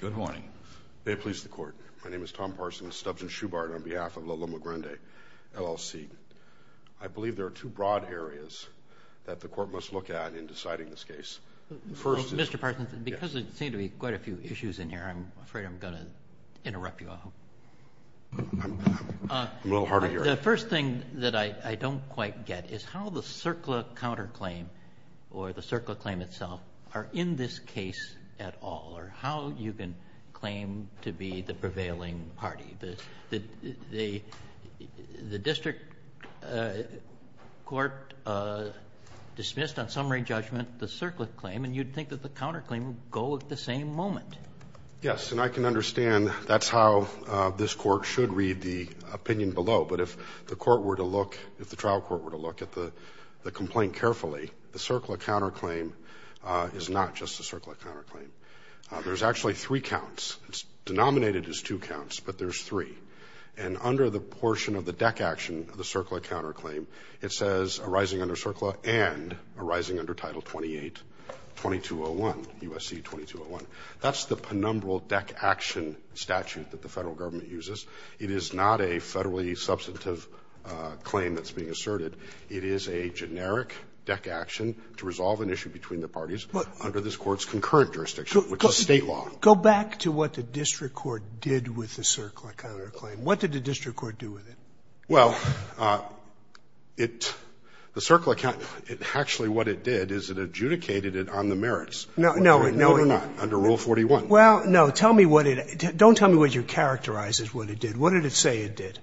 Good morning. May it please the Court. My name is Tom Parsons, Stubbs & Schubart on behalf of La Loma Grande, LLC. I believe there are two broad areas that the Court must look at in deciding this case. Mr. Parsons, because there seem to be quite a few issues in here, I'm afraid I'm going to interrupt you. I'm a little hard of hearing. The first thing that I don't quite get is how the CERCLA counterclaim, or the CERCLA claim itself, are in this case at all, or how you can claim to be the prevailing party. The district court dismissed on summary judgment the CERCLA claim, and you'd think that the counterclaim would go at the same moment. Yes, and I can understand that's how this Court should read the opinion below. But if the court were to look, if the trial court were to look at the complaint carefully, the CERCLA counterclaim is not just a CERCLA counterclaim. There's actually three counts. It's denominated as two counts, but there's three. And under the portion of the DEC action of the CERCLA counterclaim, it says arising under CERCLA and arising under Title 28-2201, USC 2201. That's the penumbral DEC action statute that the federal government uses. It is not a federally substantive claim that's being asserted. It is a generic DEC action to resolve an issue between the parties under this Court's concurrent jurisdiction, which is State law. Go back to what the district court did with the CERCLA counterclaim. What did the district court do with it? Well, it – the CERCLA – actually, what it did is it adjudicated it on the merits. No, no. No, no. Under Rule 41. Well, no. Tell me what it – don't tell me what you characterize as what it did. What did it say it did?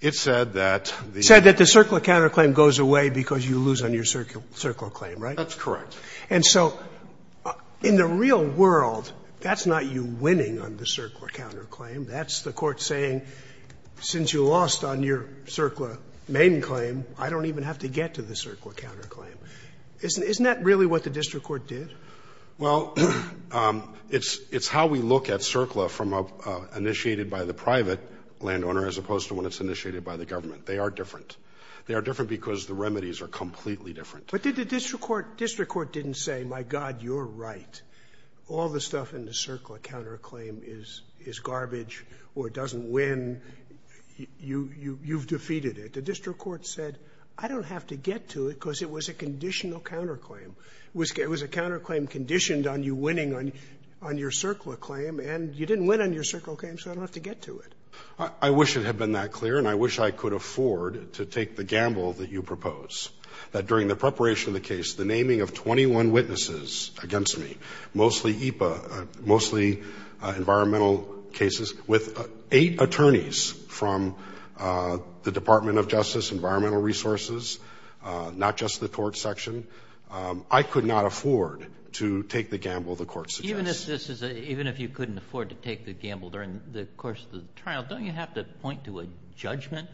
It said that the – It said that the CERCLA counterclaim goes away because you lose on your CERCLA claim, right? That's correct. And so in the real world, that's not you winning on the CERCLA counterclaim. That's the Court saying, since you lost on your CERCLA main claim, I don't even have to get to the CERCLA counterclaim. Isn't that really what the district court did? Well, it's – it's how we look at CERCLA from a – initiated by the private landowner as opposed to when it's initiated by the government. They are different. They are different because the remedies are completely different. But did the district court – district court didn't say, my God, you're right. All the stuff in the CERCLA counterclaim is – is garbage or doesn't win. You – you've defeated it. The district court said, I don't have to get to it because it was a conditional counterclaim. It was – it was a counterclaim conditioned on you winning on – on your CERCLA claim, and you didn't win on your CERCLA claim, so I don't have to get to it. I wish it had been that clear, and I wish I could afford to take the gamble that you propose, that during the preparation of the case, the naming of 21 witnesses against me, mostly EPA, mostly environmental cases, with eight attorneys from the Department of Justice, Environmental Resources, not just the torts section, I could not afford to take the gamble the Court suggests. Even if this is a – even if you couldn't afford to take the gamble during the course of the trial, don't you have to point to a judgment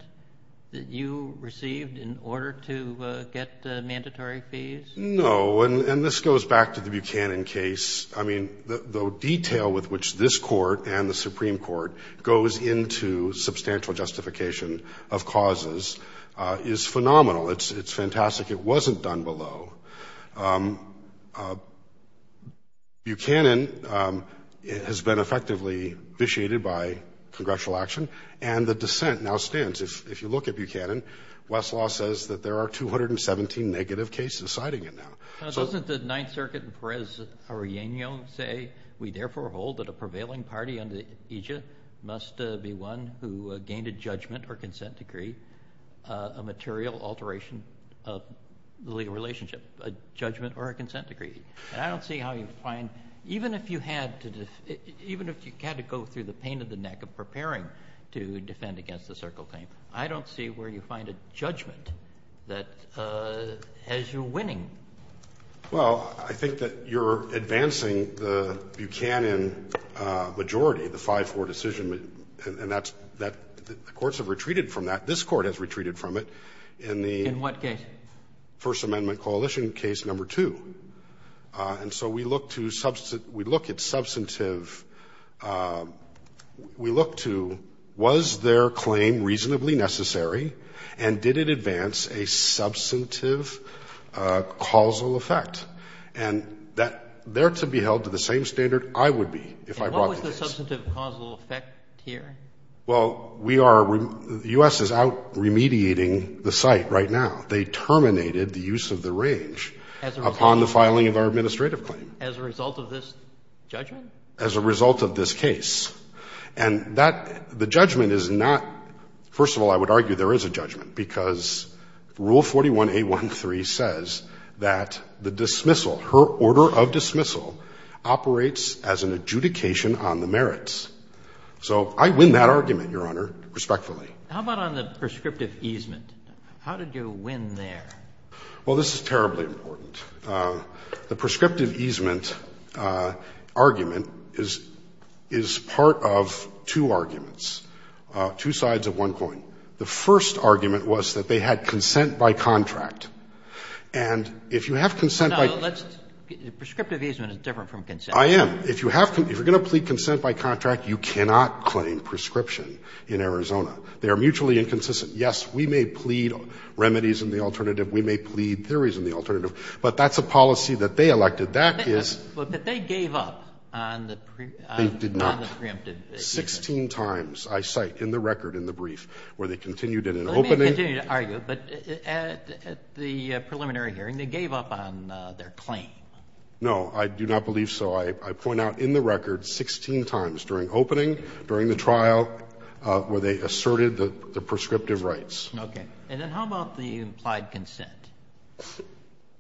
that you received in order to get mandatory fees? No. And this goes back to the Buchanan case. I mean, the detail with which this Court and the Supreme Court goes into substantial justification of causes is phenomenal. It's fantastic. It's like it wasn't done below. Buchanan has been effectively vitiated by congressional action, and the dissent now stands. If you look at Buchanan, Westlaw says that there are 217 negative cases citing it now. Now, doesn't the Ninth Circuit in Perez-Arreano say, we therefore hold that a prevailing party under EJIA must be one who gained a judgment or consent decree, a material alteration of the legal relationship, a judgment or a consent decree? And I don't see how you find – even if you had to – even if you had to go through the pain in the neck of preparing to defend against the Circle Claim, I don't see where you find a judgment that – as you're winning. Well, I think that you're advancing the Buchanan majority, the 5-4 decision, and that's – the courts have retreated from that. This Court has retreated from it in the – In what case? First Amendment Coalition Case No. 2. And so we look to – we look at substantive – we look to was their claim reasonably necessary, and did it advance a substantive causal effect. And that – they're to be held to the same standard I would be if I brought the case. And what was the substantive causal effect here? Well, we are – the U.S. is out remediating the site right now. They terminated the use of the range upon the filing of our administrative claim. As a result of this judgment? As a result of this case. And that – the judgment is not – first of all, I would argue there is a judgment because Rule 41a13 says that the dismissal, her order of dismissal, operates as an adjudication on the merits. So I win that argument, Your Honor, respectfully. How about on the prescriptive easement? How did you win there? Well, this is terribly important. The prescriptive easement argument is part of two arguments, two sides of one coin. The first argument was that they had consent by contract. And if you have consent by – No, let's – prescriptive easement is different from consent. I am. If you have – if you are going to plead consent by contract, you cannot claim prescription in Arizona. They are mutually inconsistent. Yes, we may plead remedies in the alternative. We may plead theories in the alternative. But that's a policy that they elected. That is – But they gave up on the – They did not. On the preemptive easement. Sixteen times I cite in the record, in the brief, where they continued in an opening – Let me continue to argue. But at the preliminary hearing, they gave up on their claim. No. I do not believe so. I point out in the record 16 times, during opening, during the trial, where they asserted the prescriptive rights. Okay. And then how about the implied consent?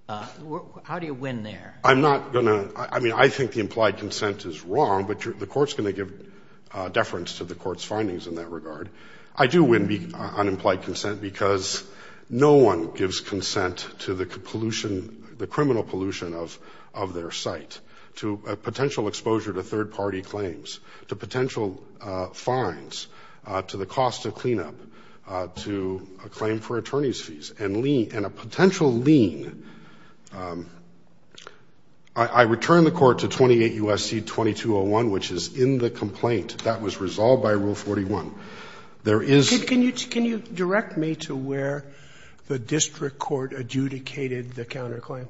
How do you win there? I'm not going to – I mean, I think the implied consent is wrong, but the Court's going to give deference to the Court's findings in that regard. I do win unimplied consent because no one gives consent to the pollution, the criminal pollution of their site, to potential exposure to third-party claims, to potential fines, to the cost of cleanup, to a claim for attorney's fees, and a potential lien. I return the Court to 28 U.S.C. 2201, which is in the complaint that was resolved by Rule 41. There is – Sotomayor, can you direct me to where the district court adjudicated the counterclaim?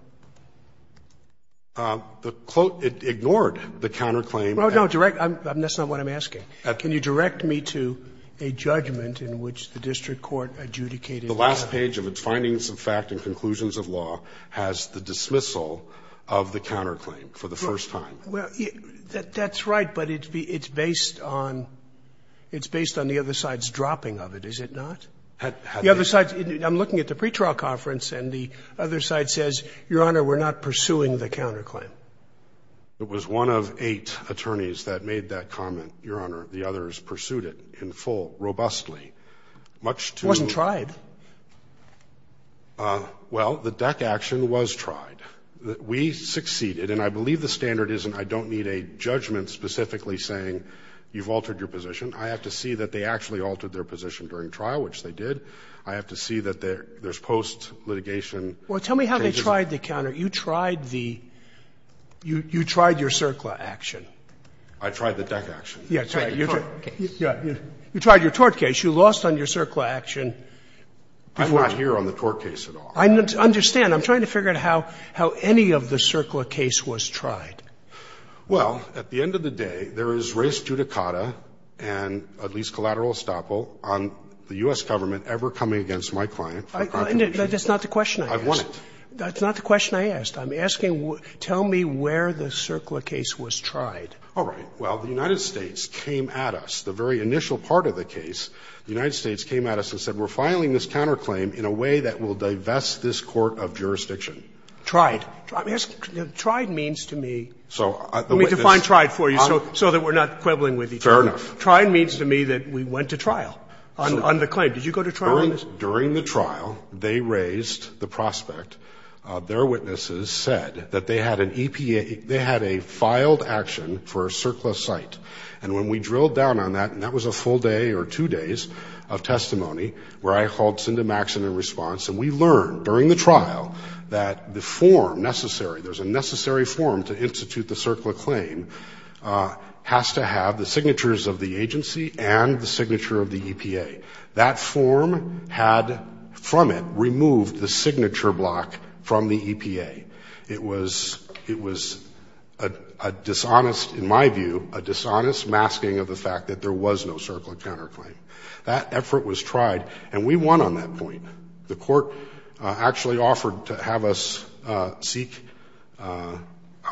It ignored the counterclaim. Well, no, direct – that's not what I'm asking. Can you direct me to a judgment in which the district court adjudicated? The last page of its findings of fact and conclusions of law has the dismissal of the counterclaim for the first time. Well, that's right, but it's based on the other side's dropping of it. Is it not? The other side – I'm looking at the pretrial conference and the other side says, Your Honor, we're not pursuing the counterclaim. It was one of eight attorneys that made that comment, Your Honor. The others pursued it in full, robustly, much to the – It wasn't tried. Well, the DEC action was tried. We succeeded, and I believe the standard isn't I don't need a judgment specifically saying you've altered your position. I have to see that they actually altered their position during trial, which they did. I have to see that there's post-litigation changes. Well, tell me how they tried the counter – you tried the – you tried your CERCLA action. I tried the DEC action. Yeah, you tried your tort case. You lost on your CERCLA action. I'm not here on the tort case at all. I understand. I'm trying to figure out how any of the CERCLA case was tried. Well, at the end of the day, there is res judicata and at least collateral estoppel on the U.S. Government ever coming against my client for a counterclaim. That's not the question I asked. I want it. That's not the question I asked. I'm asking tell me where the CERCLA case was tried. All right. Well, the United States came at us. The very initial part of the case, the United States came at us and said, we're filing this counterclaim in a way that will divest this court of jurisdiction. Tried. Tried means to me. Let me define tried for you so that we're not quibbling with each other. Fair enough. Tried means to me that we went to trial on the claim. Did you go to trial on this? During the trial, they raised the prospect. Their witnesses said that they had an EPA they had a filed action for a CERCLA site. And when we drilled down on that, and that was a full day or two days of testimony where I called Cindy Maxson in response, and we learned during the trial that the form necessary, there's a necessary form to institute the CERCLA claim has to have the signatures of the agency and the signature of the EPA. That form had, from it, removed the signature block from the EPA. It was a dishonest, in my view, a dishonest masking of the fact that there was no CERCLA counterclaim. That effort was tried, and we won on that point. The court actually offered to have us seek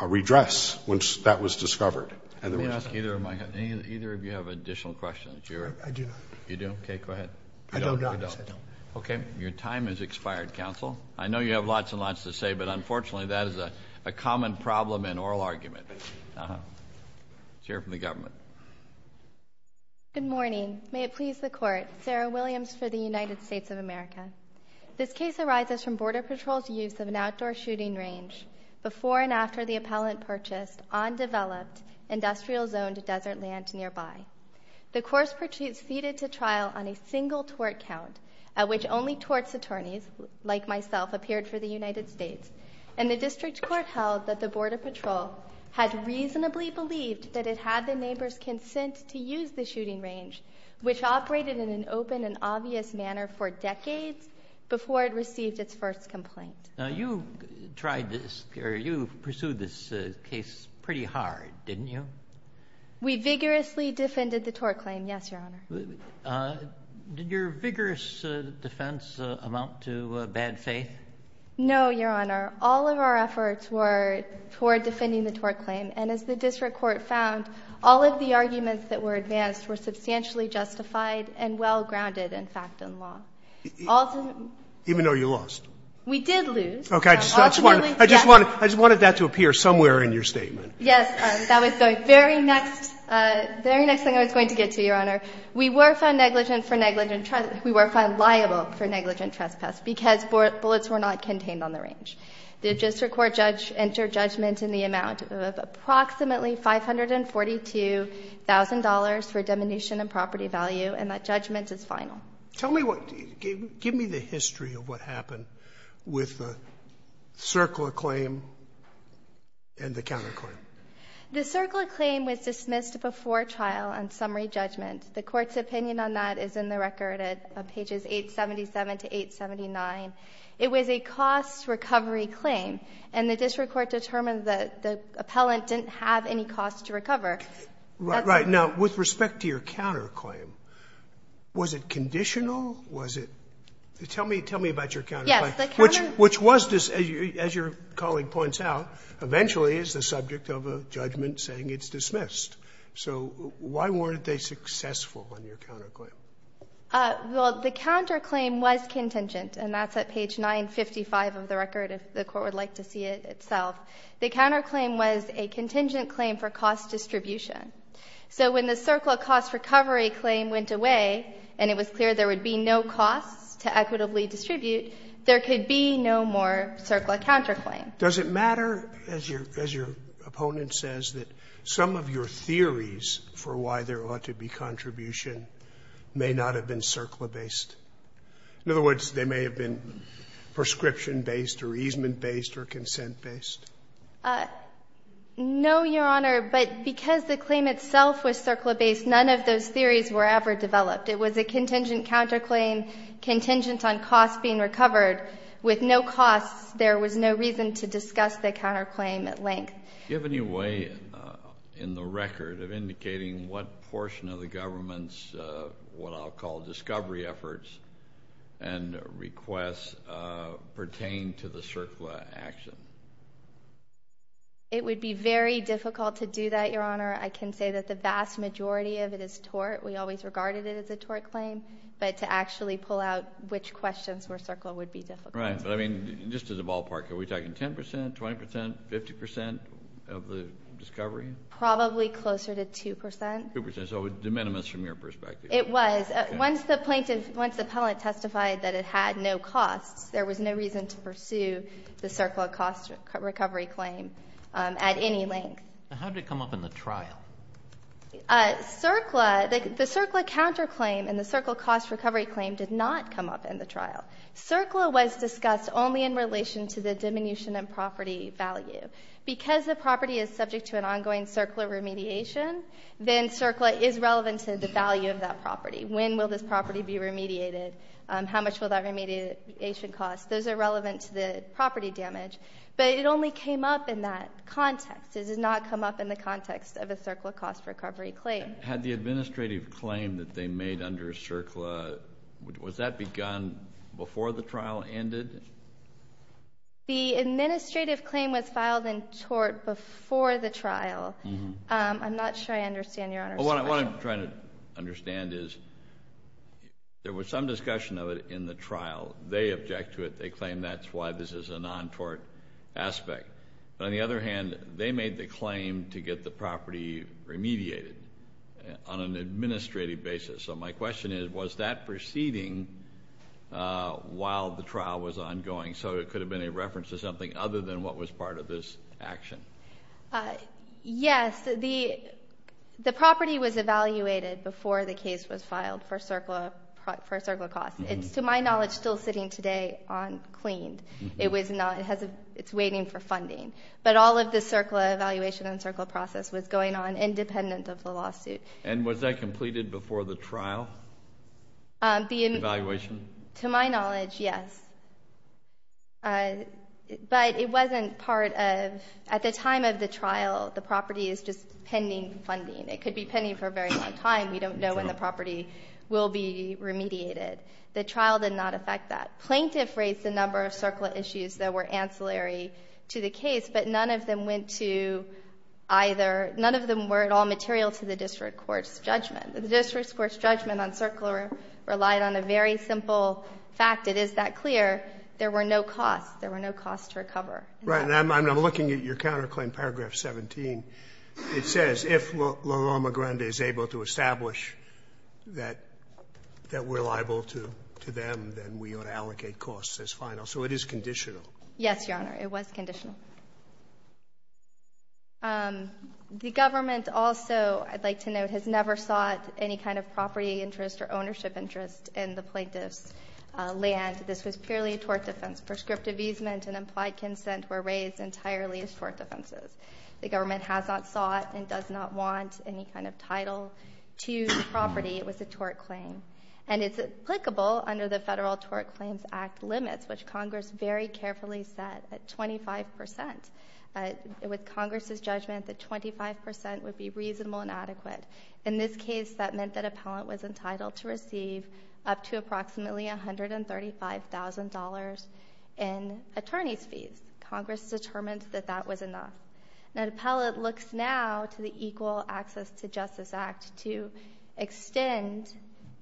redress once that was discovered. Let me ask either of my, either of you have additional questions? I do not. You do? Okay, go ahead. I don't, honestly, I don't. Okay, your time has expired, counsel. I know you have lots and lots to say, but unfortunately, that is a common problem in oral argument. Let's hear it from the government. Good morning. May it please the court. Sarah Williams for the United States of America. This case arises from Border Patrol's use of an outdoor shooting range before and after the appellant purchased undeveloped, industrial-zoned desert land nearby. The court proceeded to trial on a single tort count, at which only torts attorneys, like myself, appeared for the United States, and the district court held that the Border Patrol had reasonably believed that it had the neighbor's consent to use the shooting range, which operated in an open and obvious manner for decades before it received its first complaint. Now, you tried this, or you pursued this case pretty hard, didn't you? We vigorously defended the tort claim, yes, Your Honor. Did your vigorous defense amount to bad faith? No, Your Honor. All of our efforts were toward defending the tort claim, and as the district court found, all of the arguments that were advanced were substantially justified and well-grounded, in fact, in law. Even though you lost? We did lose. Okay. I just wanted that to appear somewhere in your statement. Yes. That was the very next thing I was going to get to, Your Honor. We were found negligent for negligent trespass. We were found liable for negligent trespass because bullets were not contained on the range. The district court judge entered judgment in the amount of approximately $542,000 for diminution of property value, and that judgment is final. Tell me what the – give me the history of what happened with the CERCLA claim and the counterclaim. The CERCLA claim was dismissed before trial on summary judgment. The Court's opinion on that is in the record at pages 877 to 879. It was a cost-recovery claim, and the district court determined that the appellant didn't have any cost to recover. Right. Now, with respect to your counterclaim, was it conditional? Was it – tell me about your counterclaim, which was, as your colleague points out, eventually is the subject of a judgment saying it's dismissed. So why weren't they successful on your counterclaim? Well, the counterclaim was contingent, and that's at page 955 of the record, if the Court would like to see it itself. The counterclaim was a contingent claim for cost distribution. So when the CERCLA cost-recovery claim went away and it was clear there would be no cost to equitably distribute, there could be no more CERCLA counterclaim. Does it matter, as your opponent says, that some of your theories for why there ought to be contribution may not have been CERCLA-based? In other words, they may have been prescription-based or easement-based or consent-based? No, Your Honor, but because the claim itself was CERCLA-based, none of those theories were ever developed. It was a contingent counterclaim, contingent on cost being recovered. With no costs, there was no reason to discuss the counterclaim at length. Do you have any way in the record of indicating what portion of the government's, what I'll call discovery efforts and requests, pertain to the CERCLA action? It would be very difficult to do that, Your Honor. I can say that the vast majority of it is tort. We always regarded it as a tort claim, but to actually pull out which questions were CERCLA would be difficult. Right, but I mean, just as a ballpark, are we talking 10 percent, 20 percent, 50 percent of the discovery? Probably closer to 2 percent. 2 percent, so de minimis from your perspective. It was. Once the plaintiff, once the appellant testified that it had no costs, there was no reason to pursue the CERCLA cost recovery claim at any length. How did it come up in the trial? CERCLA, the CERCLA counterclaim and the CERCLA cost recovery claim did not come up in the trial. CERCLA was discussed only in relation to the diminution in property value. Because the property is subject to an ongoing CERCLA remediation, then CERCLA is relevant to the value of that property. When will this property be remediated? How much will that remediation cost? Those are relevant to the property damage. But it only came up in that context. It did not come up in the context of a CERCLA cost recovery claim. Had the administrative claim that they made under CERCLA, was that begun before the trial ended? The administrative claim was filed and tort before the trial. I'm not sure I understand, Your Honor. What I'm trying to understand is there was some discussion of it in the trial. They object to it. They claim that's why this is a non-tort aspect. But on the other hand, they made the claim to get the property remediated on an administrative basis. So my question is, was that proceeding while the trial was ongoing? So it could have been a reference to something other than what was part of this action. Yes, the property was evaluated before the case was filed for CERCLA costs. It's, to my knowledge, still sitting today on CLEANED. It's waiting for funding. But all of the CERCLA evaluation and CERCLA process was going on independent of the lawsuit. And was that completed before the trial evaluation? To my knowledge, yes. But it wasn't part of, at the time of the trial, the property is just pending funding. It could be pending for a very long time. We don't know when the property will be remediated. The trial did not affect that. Plaintiff raised a number of CERCLA issues that were ancillary to the case, but none of them went to either, none of them were at all material to the district court's judgment. The district court's judgment on CERCLA relied on a very simple fact. It is that clear. There were no costs. There were no costs to recover. Right. And I'm looking at your counterclaim, paragraph 17. It says, if Law McGrindy is able to establish that we're liable to them, then we ought to allocate costs as final. So it is conditional. Yes, Your Honor. It was conditional. The government also, I'd like to note, has never sought any kind of property interest or ownership interest in the plaintiff's land. This was purely a tort defense. Prescriptive easement and implied consent were raised entirely as tort defenses. The government has not sought and does not want any kind of title to the property. It was a tort claim. And it's applicable under the Federal Tort Claims Act limits, which Congress very carefully set at 25%. With Congress's judgment that 25% would be reasonable and adequate. In this case, that meant that appellant was entitled to receive up to approximately $135,000 in attorney's fees. Congress determined that that was enough. Now, the appellate looks now to the Equal Access to Justice Act to extend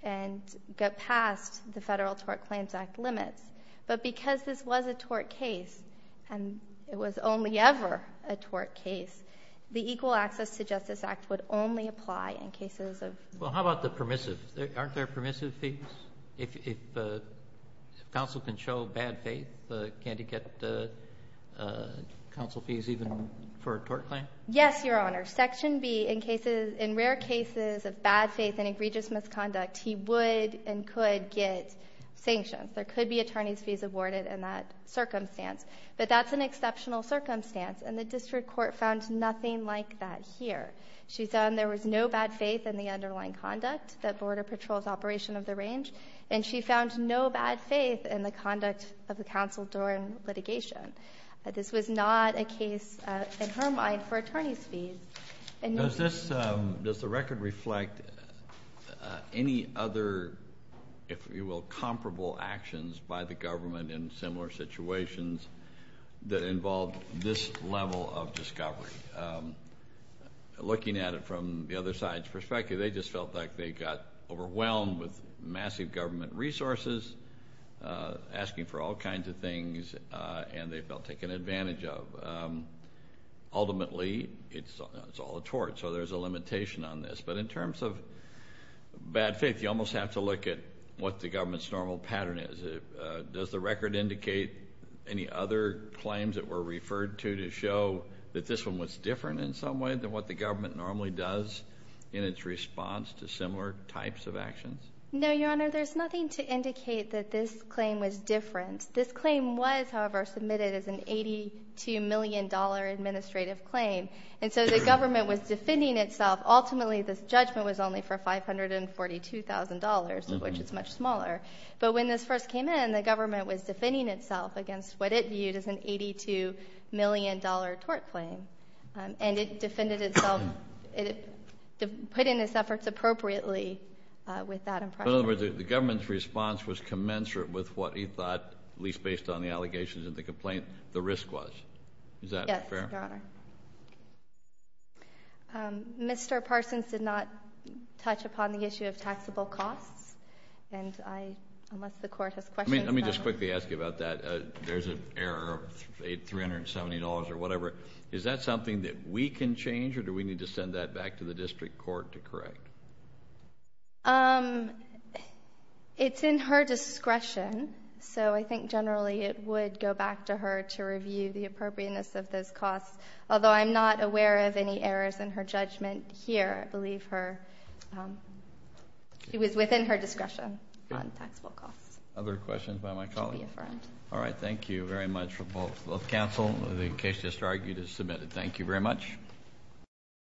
and get past the Federal Tort Claims Act limits. But because this was a tort case, and it was only ever a tort case, the Equal Access to Justice Act would only apply in cases of. Well, how about the permissive? Aren't there permissive fees? If counsel can show bad faith, can't he get counsel fees even for a tort claim? Yes, Your Honor. Section B, in rare cases of bad faith and egregious misconduct, he would and could get sanctions. There could be attorney's fees awarded in that circumstance. But that's an exceptional circumstance. And the district court found nothing like that here. She found there was no bad faith in the underlying conduct that border patrol's operation of the range. And she found no bad faith in the conduct of the counsel during litigation. This was not a case, in her mind, for attorney's fees. Does this, does the record reflect any other, if you will, comparable actions by the government in similar situations that involved this level of discovery? Looking at it from the other side's perspective, they just felt like they got overwhelmed with massive government resources, asking for all kinds of things, and they felt taken advantage of. Ultimately, it's all a tort. So there's a limitation on this. But in terms of bad faith, you almost have to look at what the government's normal pattern is. Does the record indicate any other claims that were referred to to show that this one was different in some way than what the government normally does in its response to similar types of actions? No, Your Honor. There's nothing to indicate that this claim was different. This claim was, however, submitted as an $82 million administrative claim. And so the government was defending itself. Ultimately, this judgment was only for $542,000, of which it's much smaller. But when this first came in, the government was defending itself against what it viewed as an $82 million tort claim. And it defended itself, put in its efforts appropriately with that impression. In other words, the government's response was commensurate with what it thought, at least based on the allegations and the complaint, the risk was. Is that fair? Mr. Parsons did not touch upon the issue of taxable costs. And I must, the court has questions. Let me just quickly ask you about that. There's an error of $370 or whatever. Is that something that we can change or do we need to send that back to the district court to correct? Um, it's in her discretion, so I think generally it would go back to her to review the appropriateness of those costs. Although I'm not aware of any errors in her judgment here. I believe her, um, it was within her discretion on taxable costs. Other questions by my colleague? All right. Thank you very much for both. Both counsel, the case just argued is submitted. Thank you very much.